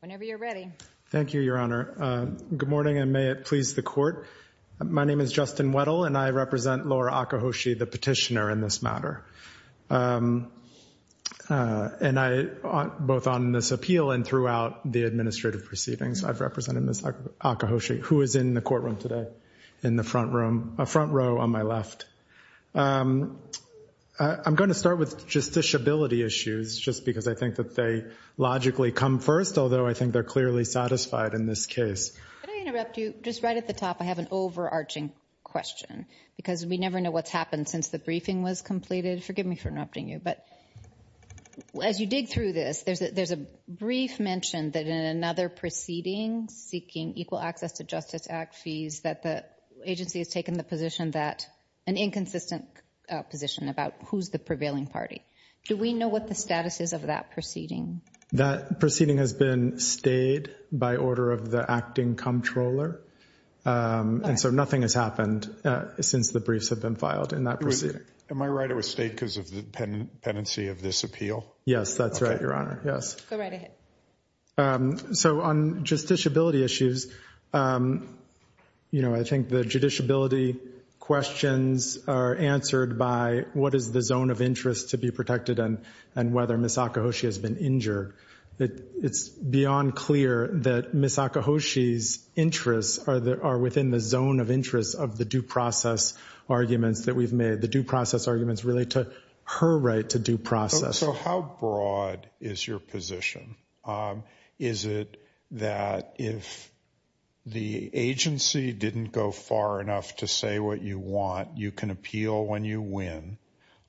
Whenever you're ready. Thank you, Your Honor. Good morning, and may it please the court. My name is Justin Weddle, and I represent Laura Akahoshi, the petitioner in this matter. And I, both on this appeal and throughout the administrative proceedings, I've represented Ms. Akahoshi, who is in the courtroom today, in the front row on my left. I'm going to start with justiciability issues, just because I think that they logically come first, although I think they're clearly satisfied in this case. Could I interrupt you? Just right at the top, I have an overarching question, because we never know what's happened since the briefing was completed. Forgive me for interrupting you, but as you dig through this, there's a brief mention that in another proceeding seeking equal access to Justice Act fees that the agency has taken the position that an inconsistent position about who's the prevailing party. Do we know what the status is of that proceeding? That proceeding has been stayed by order of the acting comptroller, and so nothing has happened since the briefs have been filed in that proceeding. Am I right it was stayed because of the pendency of this appeal? Yes, that's right, Your Honor. Yes. Go right ahead. So on justiciability issues, you know, I think the judiciability questions are answered by what is the zone of interest to be protected and whether Ms. Akihoshi has been injured. It's beyond clear that Ms. Akihoshi's interests are within the zone of interest of the due process arguments that we've made. The due process arguments relate to her right to due process. So how broad is your position? Is it that if the agency didn't go far enough to say what you want, you can appeal when you win?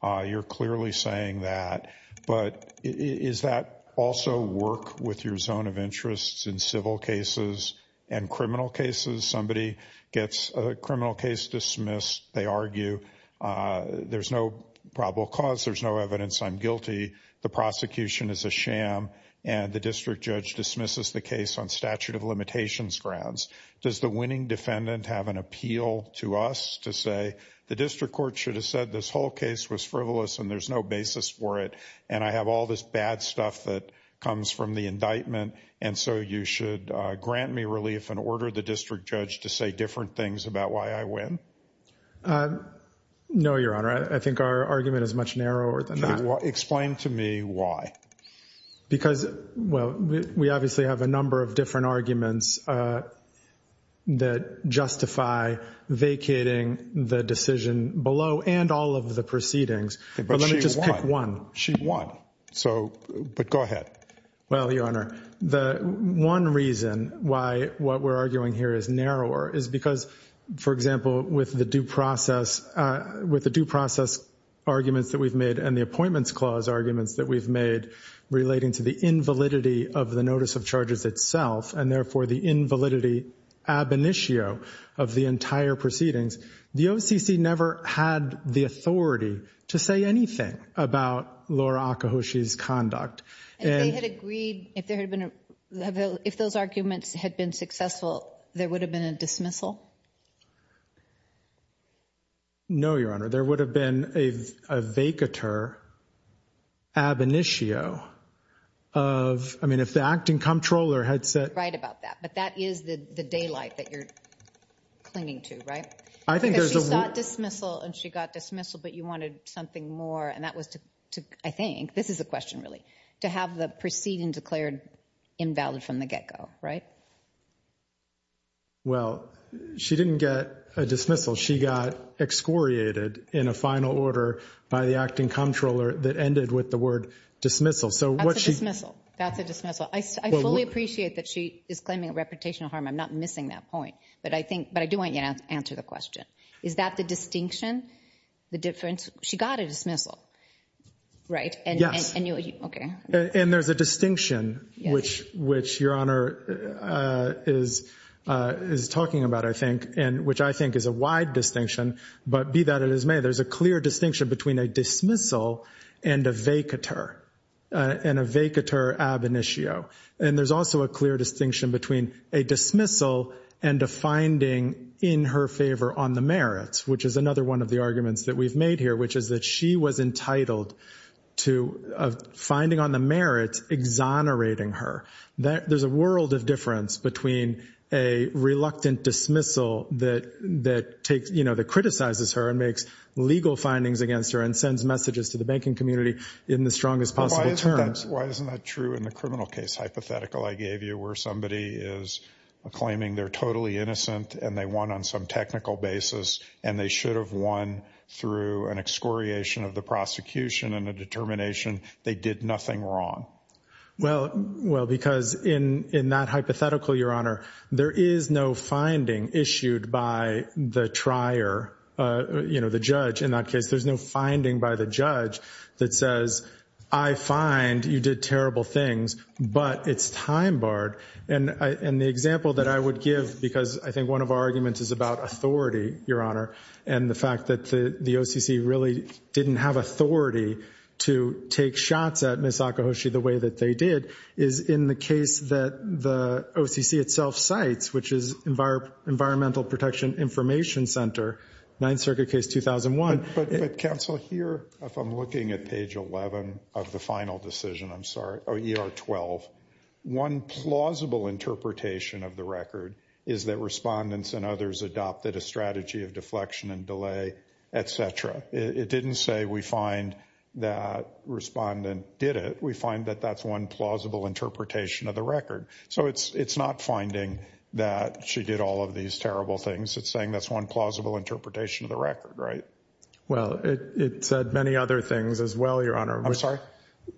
You're clearly saying that. But is that also work with your zone of interests in civil cases and criminal cases? Somebody gets a criminal case dismissed. They argue there's no probable cause, there's no evidence, I'm guilty. The prosecution is a sham and the district judge dismisses the case on statute of limitations grounds. Does the winning defendant have an appeal to us to say the district court should have said this whole case was frivolous and there's no basis for it? And I have all this bad stuff that comes from the indictment. And so you should grant me relief and order the district judge to say different things about why I win. No, Your Honor, I think our argument is much narrower than that. Explain to me why. Because, well, we obviously have a number of different arguments that justify vacating the decision below and all of the proceedings. But let me just pick one. She won. But go ahead. Well, Your Honor, the one reason why what we're arguing here is narrower is because, for example, with the due process arguments that we've made and the appointments clause arguments that we've made relating to the invalidity of the notice of charges itself and therefore the invalidity ab initio of the entire proceedings, the OCC never had the authority to say anything about Laura Akihoshi's conduct. And if they had agreed, if those arguments had been successful, there would have been a dismissal? No, Your Honor. There would have been a vacatur ab initio of, I mean, if the acting comptroller had said. Right about that. But that is the daylight that you're clinging to, right? Because she sought dismissal and she got dismissal, but you wanted something more. And that was to, I think, this is a question really, to have the proceeding declared invalid from the get-go, right? Well, she didn't get a dismissal. She got excoriated in a final order by the acting comptroller that ended with the word dismissal. That's a dismissal. That's a dismissal. I fully appreciate that she is claiming reputational harm. I'm not missing that point. But I do want you to answer the question. Is that the distinction? The difference? She got a dismissal, right? Yes. Okay. And there's a distinction, which Your Honor is talking about, I think, and which I think is a wide distinction. But be that as it may, there's a clear distinction between a dismissal and a vacatur, and a vacatur ab initio. And there's also a clear distinction between a dismissal and a finding in her favor on the merits, which is another one of the arguments that we've made here, which is that she was entitled to a finding on the merits exonerating her. There's a world of difference between a reluctant dismissal that criticizes her and makes legal findings against her and sends messages to the banking community in the strongest possible terms. Why isn't that true in the criminal case hypothetical I gave you where somebody is claiming they're totally innocent and they won on some technical basis and they should have won through an excoriation of the prosecution and a determination they did nothing wrong? Well, because in that hypothetical, Your Honor, there is no finding issued by the trier, you know, the judge. In that case, there's no finding by the judge that says, I find you did terrible things, but it's time barred. And the example that I would give, because I think one of our arguments is about authority, Your Honor, and the fact that the OCC really didn't have authority to take shots at Ms. Akihoshi the way that they did, is in the case that the OCC itself cites, which is Environmental Protection Information Center, Ninth Circuit Case 2001. But counsel, here, if I'm looking at page 11 of the final decision, I'm sorry, ER 12, one plausible interpretation of the record is that respondents and others adopted a strategy of deflection and delay, et cetera. It didn't say we find that respondent did it. We find that that's one plausible interpretation of the record. So it's not finding that she did all of these terrible things. It's saying that's one plausible interpretation of the record, right? Well, it said many other things as well, Your Honor. I'm sorry?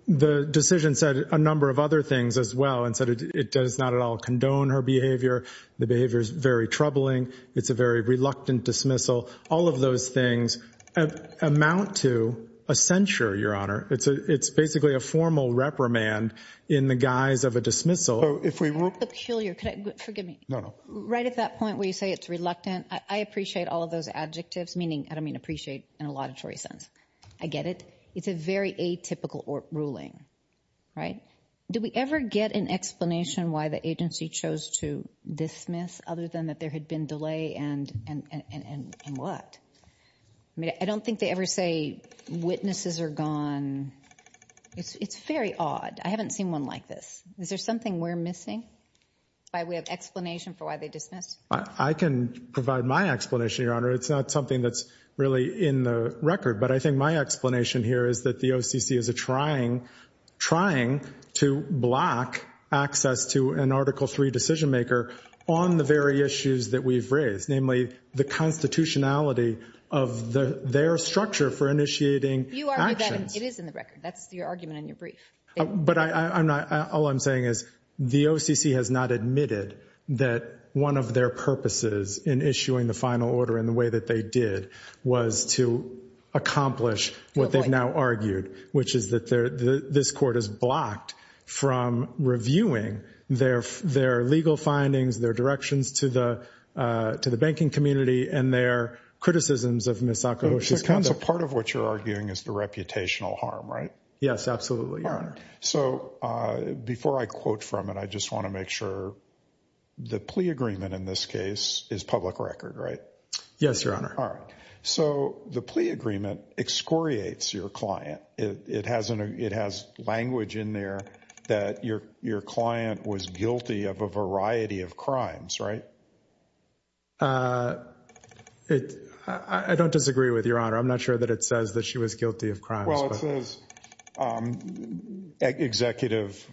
The decision said a number of other things as well and said it does not at all condone her behavior. The behavior is very troubling. It's a very reluctant dismissal. All of those things amount to a censure, Your Honor. It's basically a formal reprimand in the guise of a dismissal. If we were peculiar, forgive me. No, no. Right at that point where you say it's reluctant, I appreciate all of those adjectives, meaning I don't mean appreciate in a laudatory sense. I get it. It's a very atypical ruling, right? Did we ever get an explanation why the agency chose to dismiss other than that there had been delay and what? I mean, I don't think they ever say witnesses are gone. It's very odd. I haven't seen one like this. Is there something we're missing by way of explanation for why they dismissed? I can provide my explanation, Your Honor. It's not something that's really in the record. But I think my explanation here is that the OCC is trying to block access to an Article III decision maker on the very issues that we've raised, namely the constitutionality of their structure for initiating actions. You argue that it is in the record. That's your argument in your brief. But all I'm saying is the OCC has not admitted that one of their purposes in issuing the final order in the way that they did was to accomplish what they've now argued, which is that this court is blocked from reviewing their legal findings, their directions to the banking community, and their criticisms of Ms. Sakaguchi's conduct. So part of what you're arguing is the reputational harm, right? Yes, absolutely, Your Honor. All right. So before I quote from it, I just want to make sure the plea agreement in this case is public record, right? Yes, Your Honor. All right. So the plea agreement excoriates your client. It has language in there that your client was guilty of a variety of crimes, right? I don't disagree with Your Honor. I'm not sure that it says that she was guilty of crimes. Well, it says executive,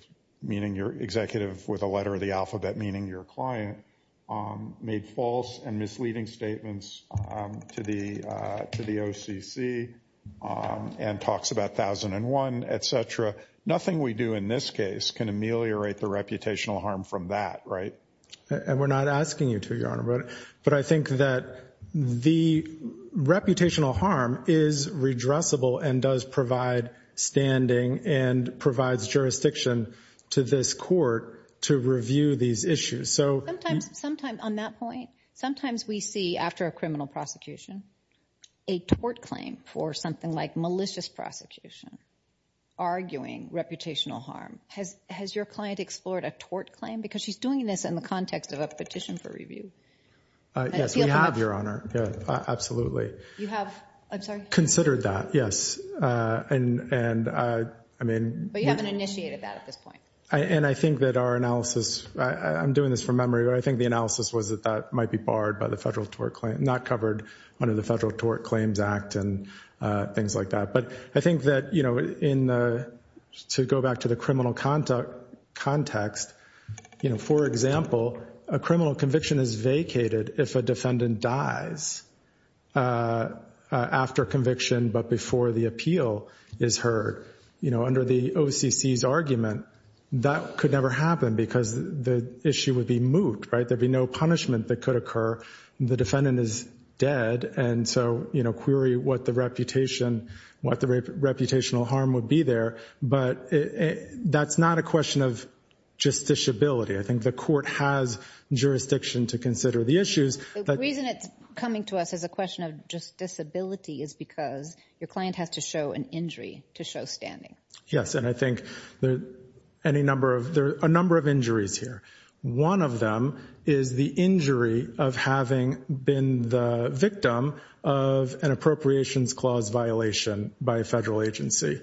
meaning you're executive with a letter of the alphabet, meaning your client made false and misleading statements to the OCC and talks about 1001, et cetera. Nothing we do in this case can ameliorate the reputational harm from that, right? And we're not asking you to, Your Honor, but I think that the reputational harm is redressable and does provide standing and provides jurisdiction to this court to review these issues. On that point, sometimes we see, after a criminal prosecution, a tort claim for something like malicious prosecution, arguing reputational harm. Has your client explored a tort claim? Because she's doing this in the context of a petition for review. Yes, we have, Your Honor. Absolutely. You have? I'm sorry? Considered that, yes. But you haven't initiated that at this point. And I think that our analysis, I'm doing this from memory, but I think the analysis was that that might be barred by the federal tort claim, not covered under the Federal Tort Claims Act and things like that. But I think that, to go back to the criminal context, for example, a criminal conviction is vacated if a defendant dies after conviction but before the appeal is heard. You know, under the OCC's argument, that could never happen because the issue would be moot, right? There'd be no punishment that could occur. The defendant is dead. And so, you know, query what the reputation, what the reputational harm would be there. But that's not a question of justiciability. I think the court has jurisdiction to consider the issues. The reason it's coming to us as a question of justiciability is because your client has to show an injury to show standing. Yes, and I think there are a number of injuries here. One of them is the injury of having been the victim of an appropriations clause violation by a federal agency.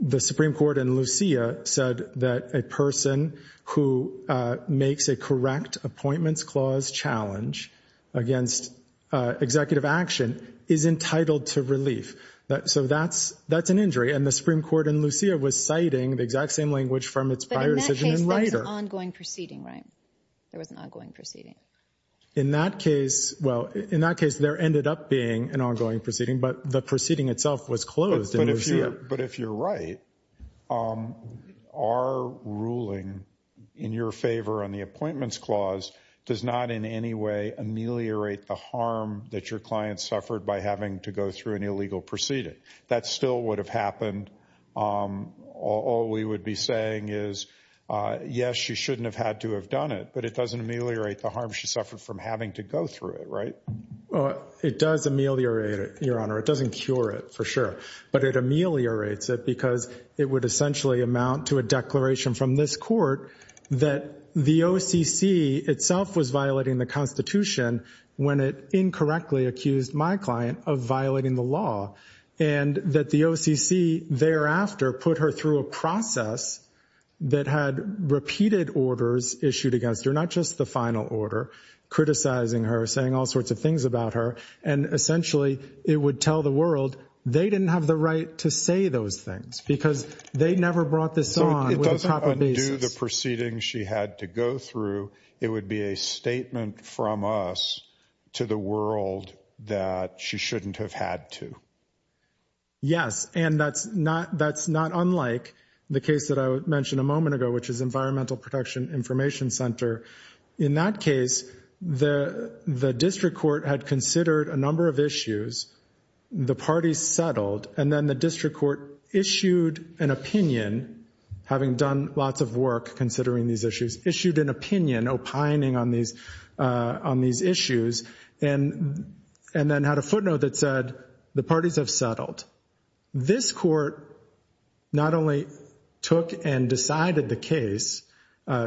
The Supreme Court in Lucia said that a person who makes a correct appointments clause challenge against executive action is entitled to relief. So that's an injury. And the Supreme Court in Lucia was citing the exact same language from its prior decision in Ryder. But in that case, there was an ongoing proceeding, right? There was an ongoing proceeding. In that case, well, in that case, there ended up being an ongoing proceeding, but the proceeding itself was closed in Lucia. But if you're right, our ruling in your favor on the appointments clause does not in any way ameliorate the harm that your client suffered by having to go through an illegal proceeding. That still would have happened. All we would be saying is, yes, she shouldn't have had to have done it, but it doesn't ameliorate the harm she suffered from having to go through it, right? It does ameliorate it, Your Honor. It doesn't cure it, for sure. But it ameliorates it because it would essentially amount to a declaration from this court that the OCC itself was violating the Constitution when it incorrectly accused my client of violating the law. And that the OCC thereafter put her through a process that had repeated orders issued against her, not just the final order, criticizing her, saying all sorts of things about her. And essentially, it would tell the world they didn't have the right to say those things because they never brought this on. It doesn't undo the proceedings she had to go through. It would be a statement from us to the world that she shouldn't have had to. Yes, and that's not unlike the case that I mentioned a moment ago, which is Environmental Protection Information Center. In that case, the district court had considered a number of issues. The parties settled. And then the district court issued an opinion, having done lots of work considering these issues, issued an opinion opining on these issues, and then had a footnote that said the parties have settled. This court not only took and decided the case,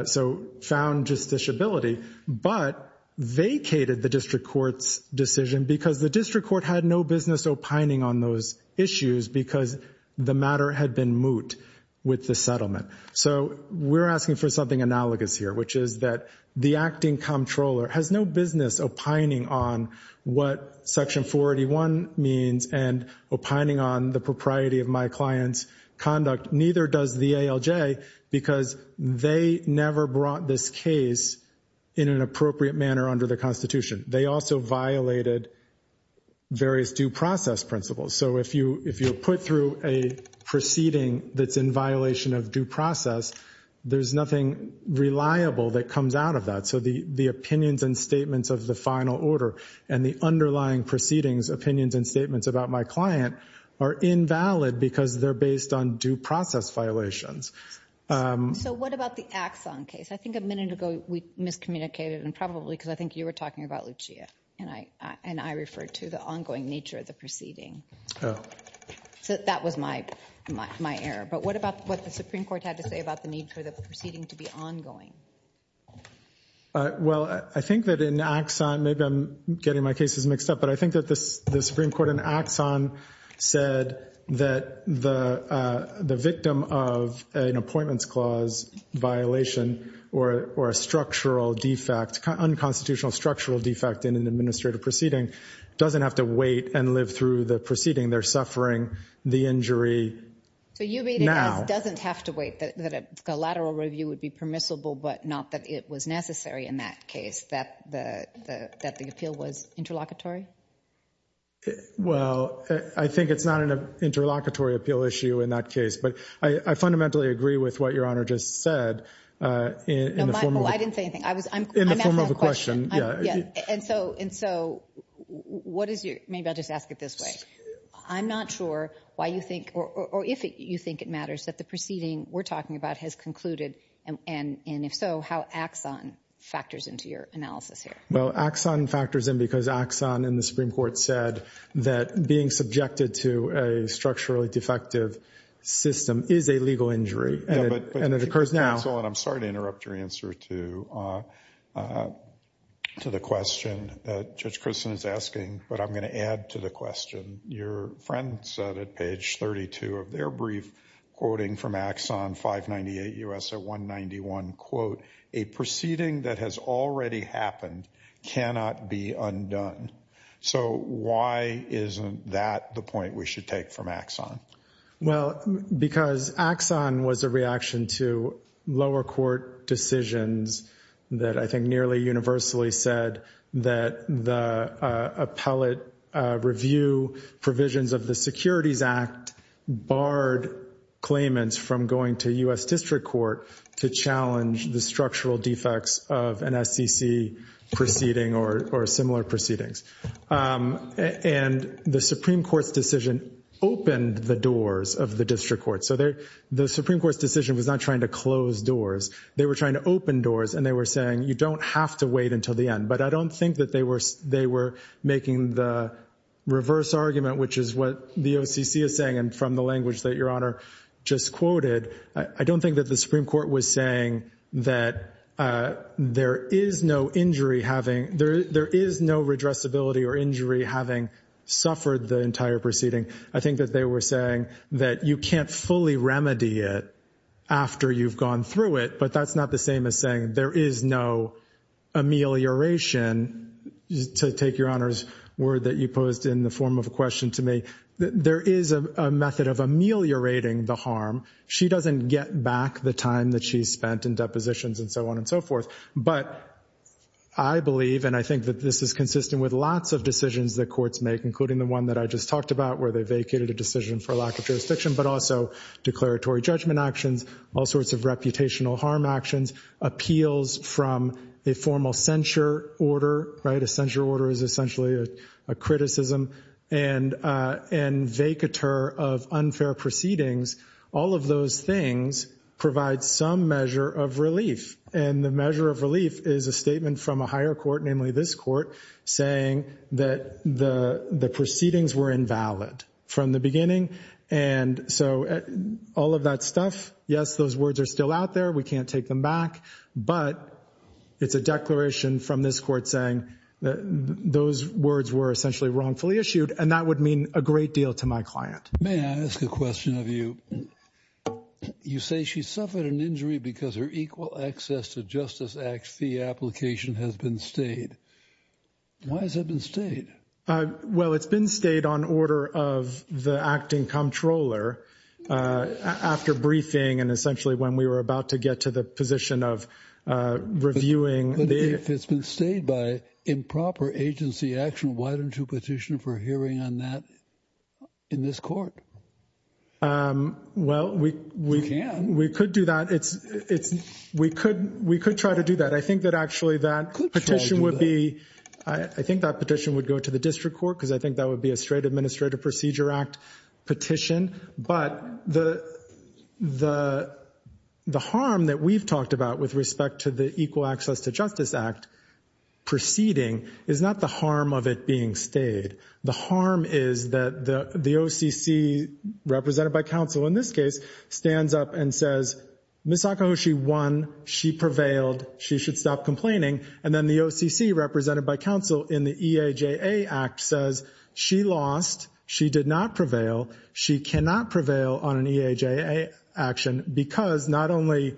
so found justiciability, but vacated the district court's decision because the district court had no business opining on those issues because the matter had been moot with the settlement. So we're asking for something analogous here, which is that the acting comptroller has no business opining on what Section 481 means and opining on the propriety of my client's conduct. Neither does the ALJ because they never brought this case in an appropriate manner under the Constitution. They also violated various due process principles. So if you put through a proceeding that's in violation of due process, there's nothing reliable that comes out of that. So the opinions and statements of the final order and the underlying proceedings, opinions and statements about my client, are invalid because they're based on due process violations. So what about the Axon case? I think a minute ago we miscommunicated, and probably because I think you were talking about Lucia, and I referred to the ongoing nature of the proceeding. So that was my error. But what about what the Supreme Court had to say about the need for the proceeding to be ongoing? Well, I think that in Axon, maybe I'm getting my cases mixed up, but I think that the Supreme Court in Axon said that the victim of an appointments clause violation, or a structural defect, unconstitutional structural defect in an administrative proceeding, doesn't have to wait and live through the proceeding. They're suffering the injury now. So you mean it doesn't have to wait, that a collateral review would be permissible, but not that it was necessary in that case, that the appeal was interlocutory? Well, I think it's not an interlocutory appeal issue in that case. But I fundamentally agree with what Your Honor just said in the form of a question. And so maybe I'll just ask it this way. I'm not sure why you think, or if you think it matters, that the proceeding we're talking about has concluded, and if so, how Axon factors into your analysis here. Well, Axon factors in because Axon in the Supreme Court said that being subjected to a structurally defective system is a legal injury, and it occurs now. Excellent. I'm sorry to interrupt your answer to the question that Judge Christen is asking. But I'm going to add to the question. Your friend said at page 32 of their brief, quoting from Axon 598 U.S. at 191, quote, a proceeding that has already happened cannot be undone. So why isn't that the point we should take from Axon? Well, because Axon was a reaction to lower court decisions that I think nearly universally said that the appellate review provisions of the Securities Act barred claimants from going to U.S. district court to challenge the structural defects of an SEC proceeding or similar proceedings. And the Supreme Court's decision opened the doors of the district court. So the Supreme Court's decision was not trying to close doors. They were trying to open doors, and they were saying you don't have to wait until the end. But I don't think that they were making the reverse argument, which is what the OCC is saying, and from the language that Your Honor just quoted. I don't think that the Supreme Court was saying that there is no injury having there is no redressability or injury having suffered the entire proceeding. I think that they were saying that you can't fully remedy it after you've gone through it. But that's not the same as saying there is no amelioration to take Your Honor's word that you posed in the form of a question to me. There is a method of ameliorating the harm. She doesn't get back the time that she spent in depositions and so on and so forth. But I believe, and I think that this is consistent with lots of decisions that courts make, including the one that I just talked about, where they vacated a decision for lack of jurisdiction, but also declaratory judgment actions, all sorts of reputational harm actions, appeals from a formal censure order, right? A censure order is essentially a criticism and vacatur of unfair proceedings. All of those things provide some measure of relief. And the measure of relief is a statement from a higher court, namely this court, saying that the proceedings were invalid from the beginning. And so all of that stuff, yes, those words are still out there. We can't take them back. But it's a declaration from this court saying that those words were essentially wrongfully issued. And that would mean a great deal to my client. May I ask a question of you? You say she suffered an injury because her equal access to Justice Act fee application has been stayed. Why has it been stayed? Well, it's been stayed on order of the acting comptroller after briefing and essentially when we were about to get to the position of reviewing. It's been stayed by improper agency action. Why don't you petition for hearing on that in this court? Well, we can. We could do that. It's we could we could try to do that. I think that actually that petition would be. I think that petition would go to the district court because I think that would be a straight Administrative Procedure Act petition. But the the the harm that we've talked about with respect to the Equal Access to Justice Act proceeding is not the harm of it being stayed. The harm is that the OCC represented by counsel in this case stands up and says, Miss Sakahoshi won. She prevailed. She should stop complaining. And then the OCC represented by counsel in the E.A.J.A. Act says she lost. She did not prevail. She cannot prevail on an E.A.J.A. action because not only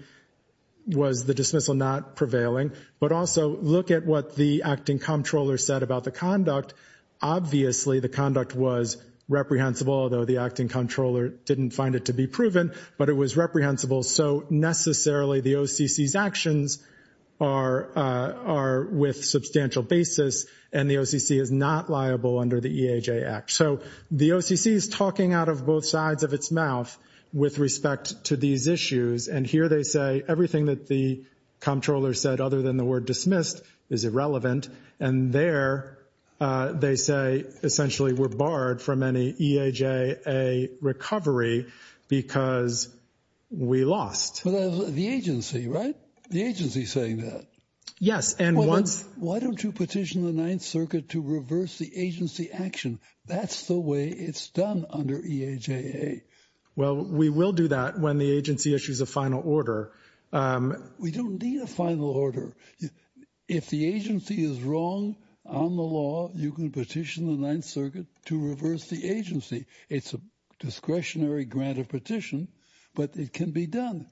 was the dismissal not prevailing, but also look at what the acting comptroller said about the conduct. Obviously, the conduct was reprehensible, although the acting comptroller didn't find it to be proven, but it was reprehensible. So necessarily the OCC's actions are are with substantial basis and the OCC is not liable under the E.A.J. Act. So the OCC is talking out of both sides of its mouth with respect to these issues. And here they say everything that the comptroller said other than the word dismissed is irrelevant. And there they say essentially we're barred from any E.A.J.A. recovery because we lost. The agency, right? The agency saying that. Yes. And once. Why don't you petition the Ninth Circuit to reverse the agency action? That's the way it's done under E.A.J.A. Well, we will do that when the agency issues a final order. We don't need a final order. If the agency is wrong on the law, you can petition the Ninth Circuit to reverse the agency. It's a discretionary grant of petition, but it can be done.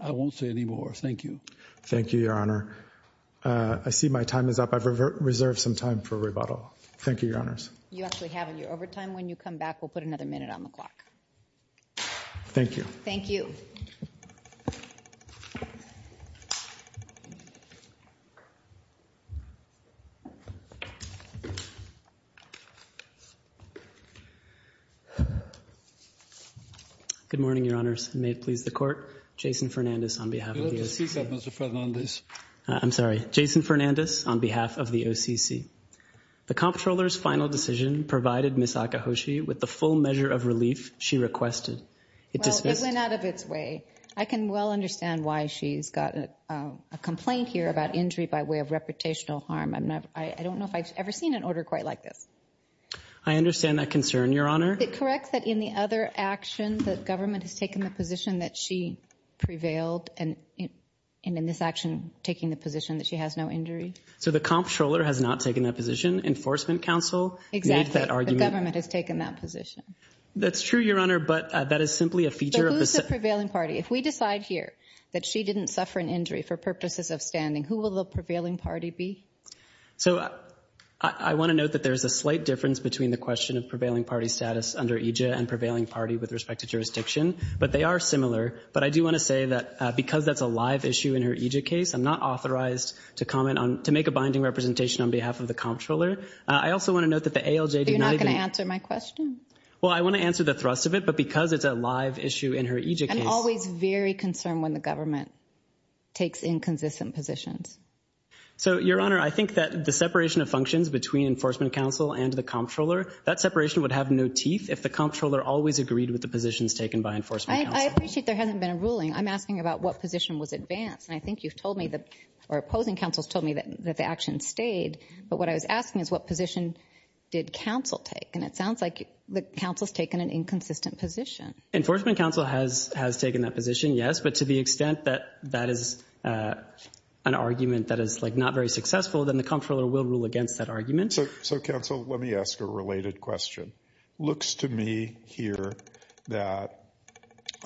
I won't say anymore. Thank you. Thank you, Your Honor. I see my time is up. I've reserved some time for rebuttal. Thank you, Your Honors. You actually have in your overtime. When you come back, we'll put another minute on the clock. Thank you. Thank you. Good morning, Your Honors. May it please the Court. Jason Fernandez on behalf of the OCC. I'm sorry. Jason Fernandez on behalf of the OCC. The comptroller's final decision provided Ms. Akihoshi with the full measure of relief she requested. Well, it went out of its way. I can well understand why she's got a complaint here about injury by way of reputational harm. I don't know if I've ever seen an order quite like this. I understand that concern, Your Honor. Is it correct that in the other action, the government has taken the position that she prevailed, and in this action, taking the position that she has no injury? So the comptroller has not taken that position? Enforcement counsel made that argument? The government has taken that position. That's true, Your Honor, but that is simply a feature. But who's the prevailing party? If we decide here that she didn't suffer an injury for purposes of standing, who will the prevailing party be? So I want to note that there's a slight difference between the question of prevailing party status under EJ and prevailing party with respect to jurisdiction, but they are similar. But I do want to say that because that's a live issue in her EJ case, I'm not authorized to make a binding representation on behalf of the comptroller. I also want to note that the ALJ did not even— You're not going to answer my question? Well, I want to answer the thrust of it, but because it's a live issue in her EJ case— I'm always very concerned when the government takes inconsistent positions. So, Your Honor, I think that the separation of functions between enforcement counsel and the comptroller, that separation would have no teeth if the comptroller always agreed with the positions taken by enforcement counsel. I appreciate there hasn't been a ruling. I'm asking about what position was advanced. And I think you've told me that—or opposing counsels told me that the action stayed. But what I was asking is what position did counsel take? And it sounds like the counsel's taken an inconsistent position. Enforcement counsel has taken that position, yes. But to the extent that that is an argument that is, like, not very successful, then the comptroller will rule against that argument. So, counsel, let me ask a related question. Looks to me here that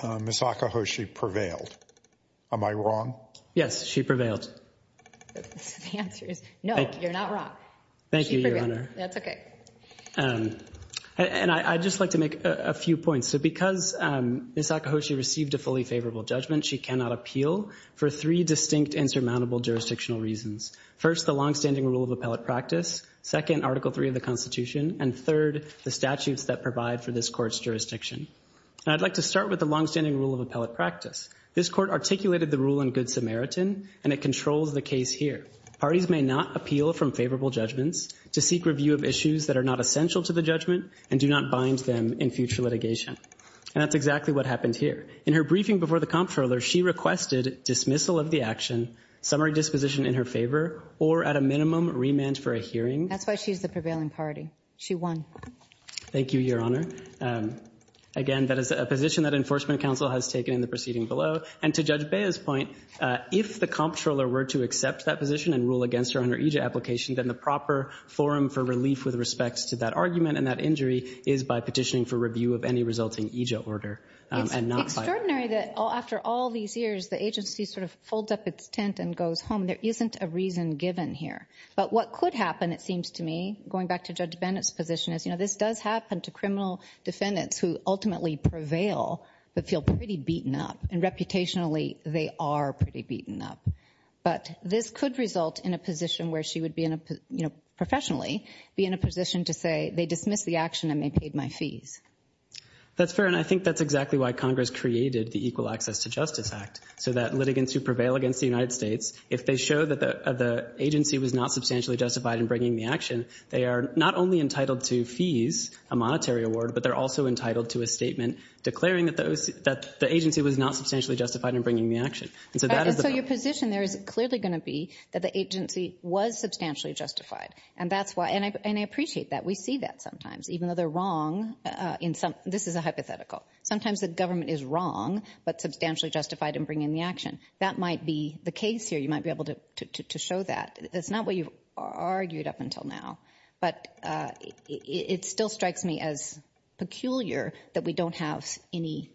Ms. Akihoshi prevailed. Am I wrong? Yes, she prevailed. The answer is no, you're not wrong. Thank you, Your Honor. She prevailed. That's okay. And I'd just like to make a few points. So because Ms. Akihoshi received a fully favorable judgment, she cannot appeal for three distinct insurmountable jurisdictional reasons. First, the longstanding rule of appellate practice. Second, Article III of the Constitution. And third, the statutes that provide for this Court's jurisdiction. And I'd like to start with the longstanding rule of appellate practice. This Court articulated the rule in Good Samaritan, and it controls the case here. Parties may not appeal from favorable judgments to seek review of issues that are not And that's exactly what happened here. In her briefing before the comptroller, she requested dismissal of the action, summary disposition in her favor, or at a minimum, remand for a hearing. That's why she's the prevailing party. She won. Thank you, Your Honor. Again, that is a position that Enforcement Counsel has taken in the proceeding below. And to Judge Bea's point, if the comptroller were to accept that position and rule against her under each application, then the proper forum for relief with respect to that argument and that injury is by petitioning for review of any resulting EJIA order. It's extraordinary that after all these years, the agency sort of folds up its tent and goes home. There isn't a reason given here. But what could happen, it seems to me, going back to Judge Bennett's position, is this does happen to criminal defendants who ultimately prevail but feel pretty beaten up. And reputationally, they are pretty beaten up. But this could result in a position where she would professionally be in a position to say That's fair, and I think that's exactly why Congress created the Equal Access to Justice Act, so that litigants who prevail against the United States, if they show that the agency was not substantially justified in bringing the action, they are not only entitled to fees, a monetary award, but they're also entitled to a statement declaring that the agency was not substantially justified in bringing the action. And so that is the problem. And so your position there is clearly going to be that the agency was substantially justified. And I appreciate that. We see that sometimes, even though they're wrong. This is a hypothetical. Sometimes the government is wrong but substantially justified in bringing the action. That might be the case here. You might be able to show that. That's not what you've argued up until now. But it still strikes me as peculiar that we don't have any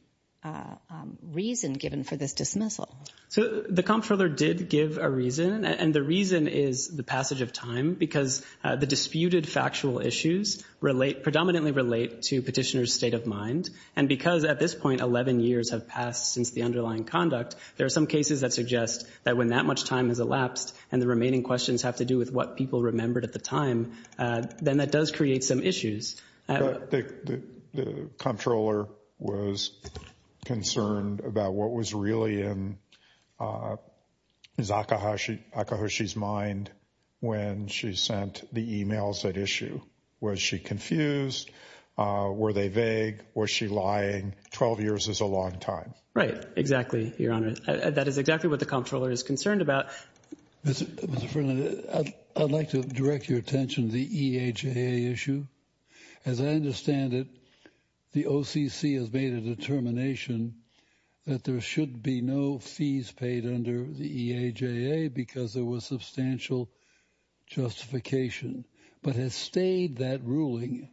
reason given for this dismissal. So the Comptroller did give a reason. And the reason is the passage of time because the disputed factual issues predominantly relate to petitioner's state of mind. And because at this point 11 years have passed since the underlying conduct, there are some cases that suggest that when that much time has elapsed and the remaining questions have to do with what people remembered at the time, then that does create some issues. The Comptroller was concerned about what was really in Akihoshi's mind when she sent the emails at issue. Was she confused? Were they vague? Was she lying? Twelve years is a long time. Right. Exactly, Your Honor. That is exactly what the Comptroller is concerned about. Mr. Friendly, I'd like to direct your attention to the EAJA issue. As I understand it, the OCC has made a determination that there should be no fees paid under the EAJA because there was substantial justification, but has stayed that ruling.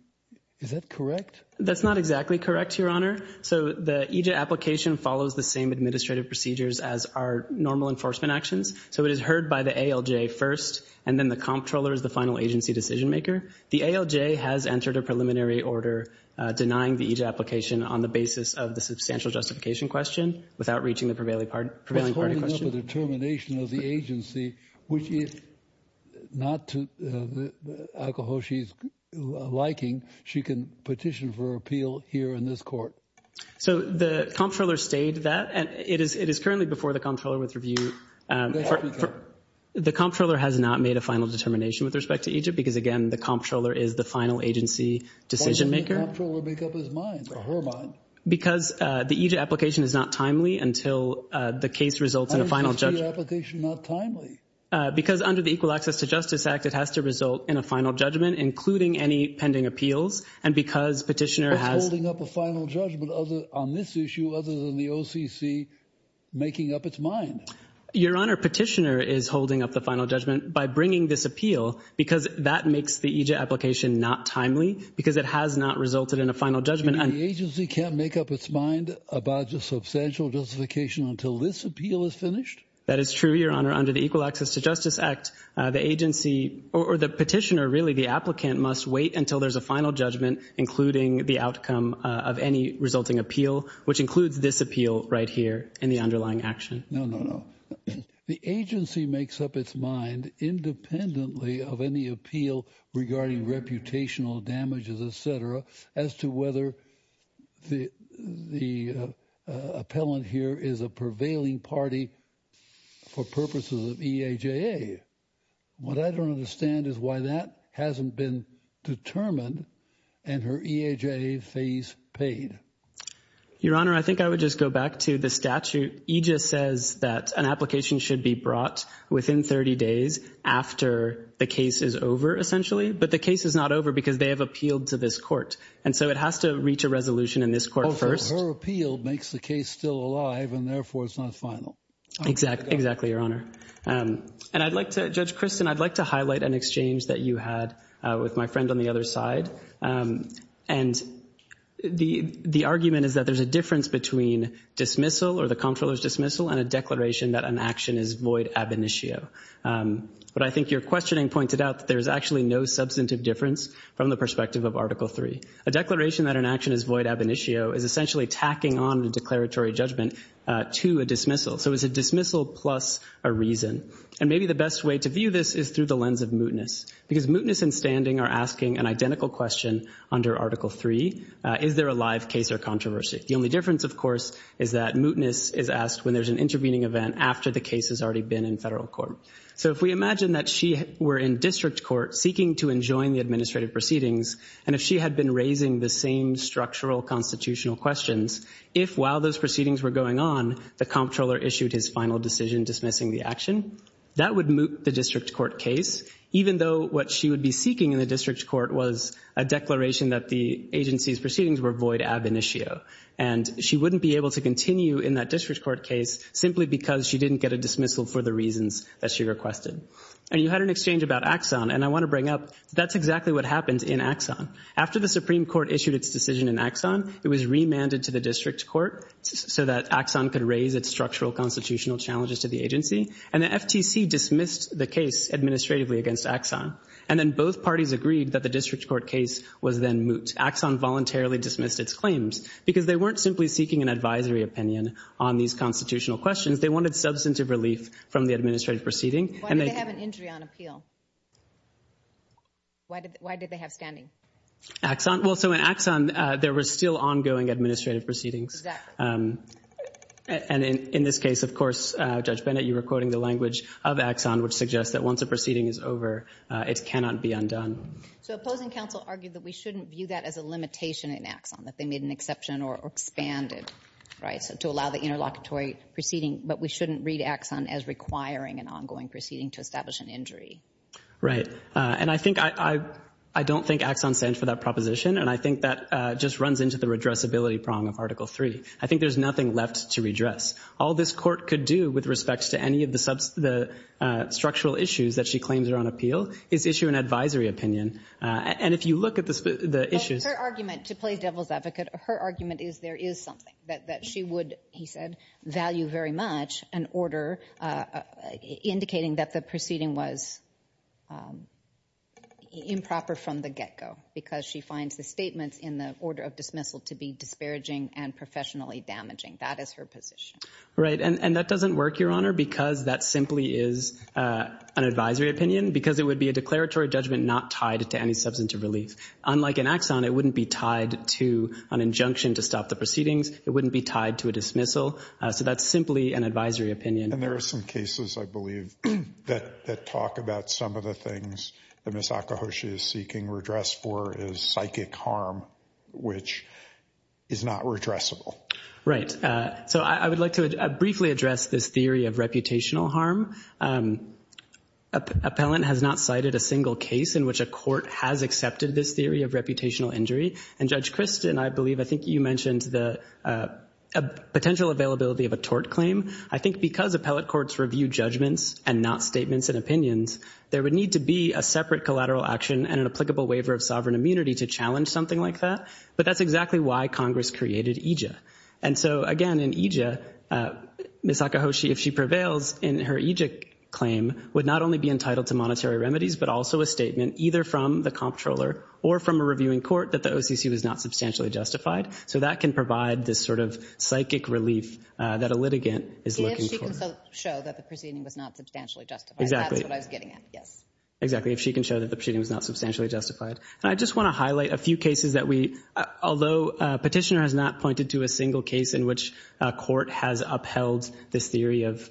Is that correct? That's not exactly correct, Your Honor. So the EJA application follows the same administrative procedures as our normal enforcement actions. So it is heard by the ALJ first, and then the Comptroller is the final agency decision-maker. The ALJ has entered a preliminary order denying the EAJA application on the basis of the substantial justification question without reaching the prevailing party question. That's holding up a determination of the agency, which if not to Akihoshi's liking, she can petition for appeal here in this court. So the Comptroller stayed that. It is currently before the Comptroller with review. The Comptroller has not made a final determination with respect to EAJA because, again, the Comptroller is the final agency decision-maker. Why doesn't the Comptroller make up his mind or her mind? Because the EAJA application is not timely until the case results in a final judgment. Why is the EAJA application not timely? Because under the Equal Access to Justice Act, it has to result in a final judgment, including any pending appeals, and because Petitioner has— Petitioner is holding up a final judgment on this issue other than the OCC making up its mind. Your Honor, Petitioner is holding up the final judgment by bringing this appeal because that makes the EAJA application not timely because it has not resulted in a final judgment. You mean the agency can't make up its mind about the substantial justification until this appeal is finished? That is true, Your Honor. Under the Equal Access to Justice Act, the agency—or the Petitioner, really, the applicant must wait until there's a final judgment, including the outcome of any resulting appeal, which includes this appeal right here in the underlying action. No, no, no. The agency makes up its mind independently of any appeal regarding reputational damages, et cetera, as to whether the appellant here is a prevailing party for purposes of EAJA. What I don't understand is why that hasn't been determined and her EAJA phase paid. Your Honor, I think I would just go back to the statute. EJA says that an application should be brought within 30 days after the case is over, essentially, but the case is not over because they have appealed to this court, and so it has to reach a resolution in this court first. Oh, so her appeal makes the case still alive, and therefore it's not final. Exactly, Your Honor. And I'd like to—Judge Kristen, I'd like to highlight an exchange that you had with my friend on the other side. And the argument is that there's a difference between dismissal or the comptroller's dismissal and a declaration that an action is void ab initio. But I think your questioning pointed out that there's actually no substantive difference from the perspective of Article III. A declaration that an action is void ab initio is essentially tacking on the declaratory judgment to a dismissal. So it's a dismissal plus a reason. And maybe the best way to view this is through the lens of mootness because mootness and standing are asking an identical question under Article III. Is there a live case or controversy? The only difference, of course, is that mootness is asked when there's an intervening event after the case has already been in federal court. So if we imagine that she were in district court seeking to enjoin the administrative proceedings, and if she had been raising the same structural constitutional questions, if while those proceedings were going on, the comptroller issued his final decision dismissing the action, that would moot the district court case, even though what she would be seeking in the district court was a declaration that the agency's proceedings were void ab initio. And she wouldn't be able to continue in that district court case simply because she didn't get a dismissal for the reasons that she requested. And you had an exchange about Axon, and I want to bring up that's exactly what happened in Axon. After the Supreme Court issued its decision in Axon, it was remanded to the district court so that Axon could raise its structural constitutional challenges to the agency. And the FTC dismissed the case administratively against Axon. And then both parties agreed that the district court case was then moot. Axon voluntarily dismissed its claims because they weren't simply seeking an advisory opinion on these constitutional questions. They wanted substantive relief from the administrative proceeding. Why did they have an injury on appeal? Why did they have standing? Axon? Well, so in Axon, there were still ongoing administrative proceedings. And in this case, of course, Judge Bennett, you were quoting the language of Axon, which suggests that once a proceeding is over, it cannot be undone. So opposing counsel argued that we shouldn't view that as a limitation in Axon, that they made an exception or expanded, right, to allow the interlocutory proceeding, but we shouldn't read Axon as requiring an ongoing proceeding to establish an injury. Right. And I think I don't think Axon stands for that proposition, and I think that just runs into the redressability prong of Article III. I think there's nothing left to redress. All this court could do with respects to any of the structural issues that she claims are on appeal is issue an advisory opinion. And if you look at the issues — Her argument, to play devil's advocate, her argument is there is something that she would, he said, value very much, an order indicating that the proceeding was improper from the get-go because she finds the statements in the order of dismissal to be disparaging and professionally damaging. That is her position. Right. And that doesn't work, Your Honor, because that simply is an advisory opinion because it would be a declaratory judgment not tied to any substantive relief. Unlike in Axon, it wouldn't be tied to an injunction to stop the proceedings. It wouldn't be tied to a dismissal. So that's simply an advisory opinion. And there are some cases, I believe, that talk about some of the things that Ms. Akihoshi is seeking redress for is psychic harm, which is not redressable. Right. So I would like to briefly address this theory of reputational harm. Appellant has not cited a single case in which a court has accepted this theory of reputational injury. And, Judge Kristen, I believe I think you mentioned the potential availability of a tort claim. I think because appellate courts review judgments and not statements and opinions, there would need to be a separate collateral action and an applicable waiver of sovereign immunity to challenge something like that. But that's exactly why Congress created EJIA. And so, again, in EJIA, Ms. Akihoshi, if she prevails, in her EJIA claim would not only be entitled to monetary remedies but also a statement either from the comptroller or from a reviewing court that the OCC was not substantially justified. So that can provide this sort of psychic relief that a litigant is looking for. If she can show that the proceeding was not substantially justified. Exactly. That's what I was getting at, yes. Exactly, if she can show that the proceeding was not substantially justified. And I just want to highlight a few cases that we, although Petitioner has not pointed to a single case in which a court has upheld this theory of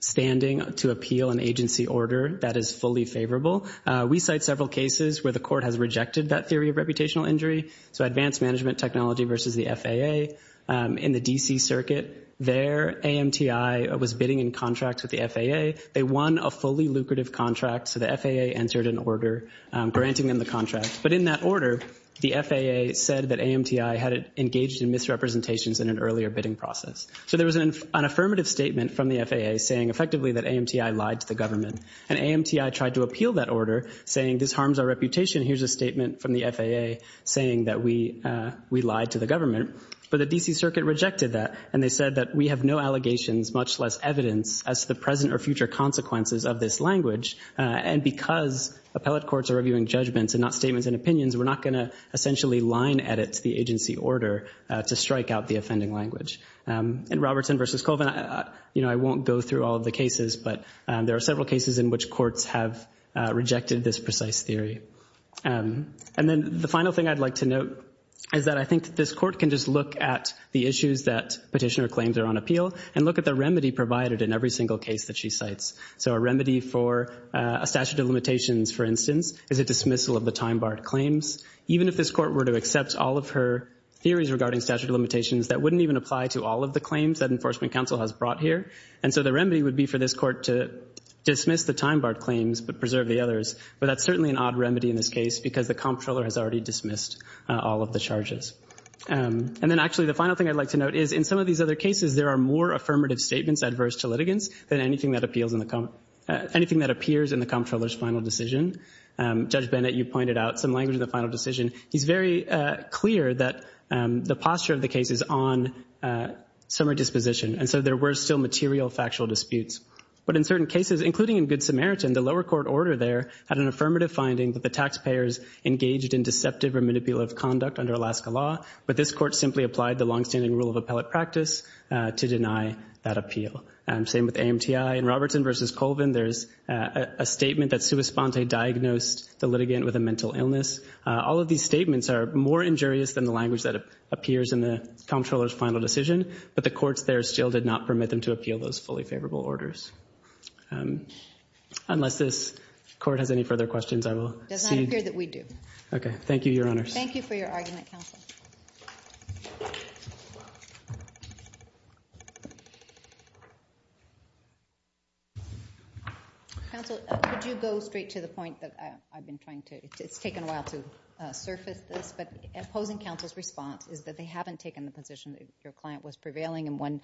standing to appeal an agency order that is fully favorable, we cite several cases where the court has rejected that theory of reputational injury. So Advanced Management Technology versus the FAA in the D.C. Circuit. There, AMTI was bidding in contract with the FAA. They won a fully lucrative contract, so the FAA entered an order granting them the contract. But in that order, the FAA said that AMTI had engaged in misrepresentations in an earlier bidding process. So there was an affirmative statement from the FAA saying effectively that AMTI lied to the government. And AMTI tried to appeal that order, saying this harms our reputation. Here's a statement from the FAA saying that we lied to the government. But the D.C. Circuit rejected that, and they said that we have no allegations, much less evidence as to the present or future consequences of this language. And because appellate courts are reviewing judgments and not statements and opinions, we're not going to essentially line edit the agency order to strike out the offending language. In Robertson versus Colvin, you know, I won't go through all of the cases, but there are several cases in which courts have rejected this precise theory. And then the final thing I'd like to note is that I think this court can just look at the issues that petitioner claims are on appeal and look at the remedy provided in every single case that she cites. So a remedy for a statute of limitations, for instance, is a dismissal of the time-barred claims. Even if this court were to accept all of her theories regarding statute of limitations, that wouldn't even apply to all of the claims that Enforcement Counsel has brought here. And so the remedy would be for this court to dismiss the time-barred claims but preserve the others. But that's certainly an odd remedy in this case because the comptroller has already dismissed all of the charges. And then actually the final thing I'd like to note is in some of these other cases, there are more affirmative statements adverse to litigants than anything that appeals in the comp- anything that appears in the comptroller's final decision. Judge Bennett, you pointed out some language in the final decision. He's very clear that the posture of the case is on summary disposition. And so there were still material factual disputes. But in certain cases, including in Good Samaritan, the lower court order there had an affirmative finding that the taxpayers engaged in deceptive or manipulative conduct under Alaska law, but this court simply applied the longstanding rule of appellate practice to deny that appeal. Same with AMTI. In Robertson v. Colvin, there's a statement that Sua Sponte diagnosed the litigant with a mental illness. All of these statements are more injurious than the language that appears in the comptroller's final decision, but the courts there still did not permit them to appeal those fully favorable orders. Unless this court has any further questions, I will see- It does not appear that we do. Okay. Thank you, Your Honors. Thank you for your argument, Counsel. Counsel, could you go straight to the point that I've been trying to? It's taken a while to surface this, but opposing counsel's response is that they haven't taken the position that your client was prevailing in one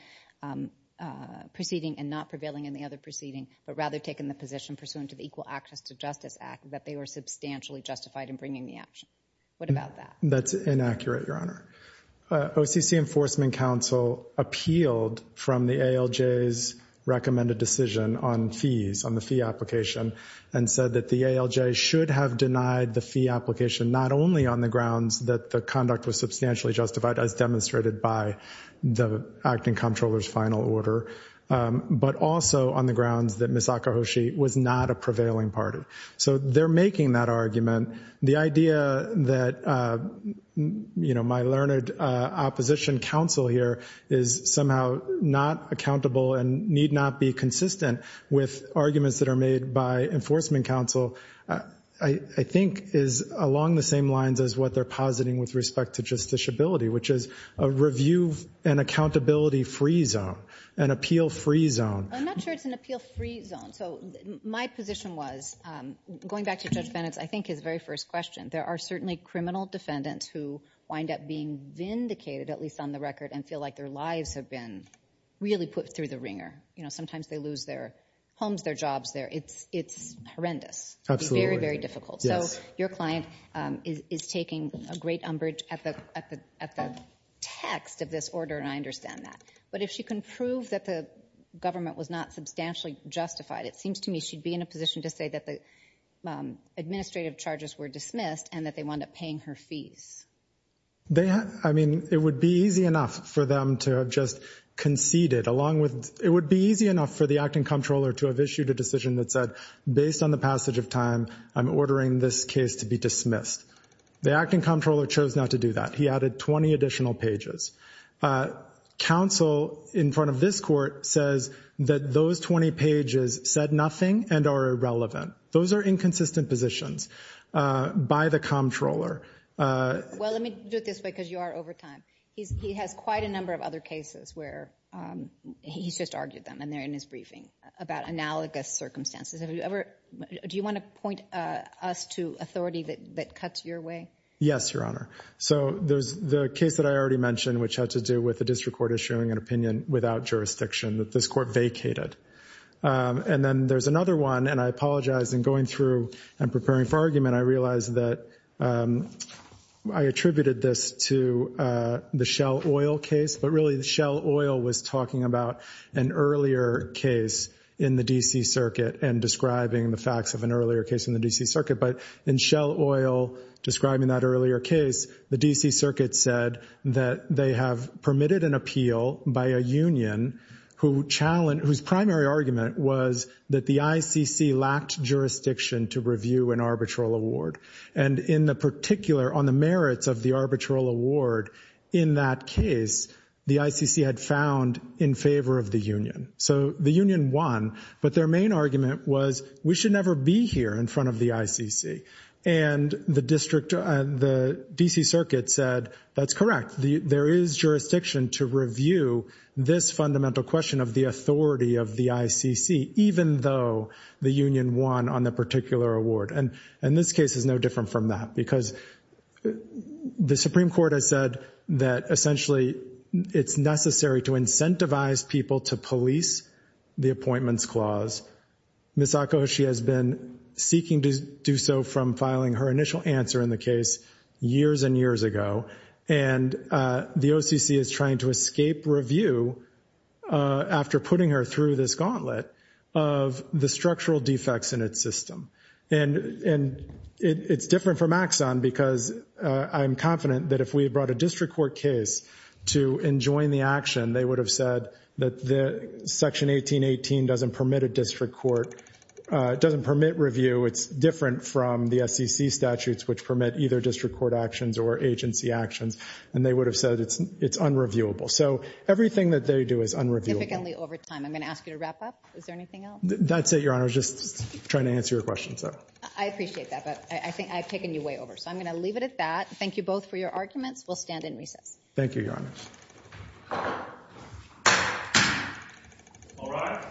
proceeding and not prevailing in the other proceeding, but rather taken the position pursuant to the Equal Access to Justice Act that they were substantially justified in bringing the action. What about that? That's inaccurate, Your Honor. OCC Enforcement Counsel appealed from the ALJ's recommended decision on fees, on the fee application, and said that the ALJ should have denied the fee application not only on the grounds that the conduct was substantially justified, as demonstrated by the acting comptroller's final order, but also on the grounds that Ms. Akahoshi was not a prevailing party. So they're making that argument. The idea that, you know, my learned opposition counsel here is somehow not accountable and need not be consistent with arguments that are made by enforcement counsel, I think is along the same lines as what they're positing with respect to justiciability, which is a review and accountability-free zone, an appeal-free zone. I'm not sure it's an appeal-free zone. So my position was, going back to Judge Bennett's, I think, his very first question, there are certainly criminal defendants who wind up being vindicated, at least on the record, and feel like their lives have been really put through the wringer. You know, sometimes they lose their homes, their jobs there. It's horrendous. Absolutely. It's very, very difficult. So your client is taking a great umbrage at the text of this order, and I understand that. But if she can prove that the government was not substantially justified, it seems to me she'd be in a position to say that the administrative charges were dismissed and that they wind up paying her fees. I mean, it would be easy enough for them to have just conceded along with the acting comptroller to have issued a decision that said, based on the passage of time, I'm ordering this case to be dismissed. The acting comptroller chose not to do that. He added 20 additional pages. Counsel in front of this court says that those 20 pages said nothing and are irrelevant. Those are inconsistent positions by the comptroller. Well, let me do it this way because you are over time. He has quite a number of other cases where he's just argued them, and they're in his briefing, about analogous circumstances. Do you want to point us to authority that cuts your way? Yes, Your Honor. So there's the case that I already mentioned, which had to do with the district court issuing an opinion without jurisdiction that this court vacated. And then there's another one, and I apologize in going through and preparing for argument. I realize that I attributed this to the Shell Oil case, but really Shell Oil was talking about an earlier case in the D.C. Circuit and describing the facts of an earlier case in the D.C. Circuit. But in Shell Oil describing that earlier case, the D.C. Circuit said that they have permitted an appeal by a union whose primary argument was that the ICC lacked jurisdiction to review an arbitral award. And on the merits of the arbitral award in that case, the ICC had found in favor of the union. So the union won, but their main argument was, we should never be here in front of the ICC. And the D.C. Circuit said, that's correct. There is jurisdiction to review this fundamental question of the authority of the ICC, even though the union won on the particular award. And this case is no different from that, because the Supreme Court has said that, essentially, it's necessary to incentivize people to police the appointments clause. Ms. Akoshi has been seeking to do so from filing her initial answer in the case years and years ago. And the OCC is trying to escape review, after putting her through this gauntlet, of the structural defects in its system. And it's different from Axon, because I'm confident that if we had brought a district court case to enjoin the action, they would have said that Section 1818 doesn't permit a district court, doesn't permit review. It's different from the SEC statutes, which permit either district court actions or agency actions. And they would have said it's unreviewable. So everything that they do is unreviewable. Significantly over time. I'm going to ask you to wrap up. Is there anything else? That's it, Your Honor. I was just trying to answer your questions, though. I appreciate that, but I think I've taken you way over. So I'm going to leave it at that. Thank you both for your arguments. We'll stand in recess. Thank you, Your Honor. All right.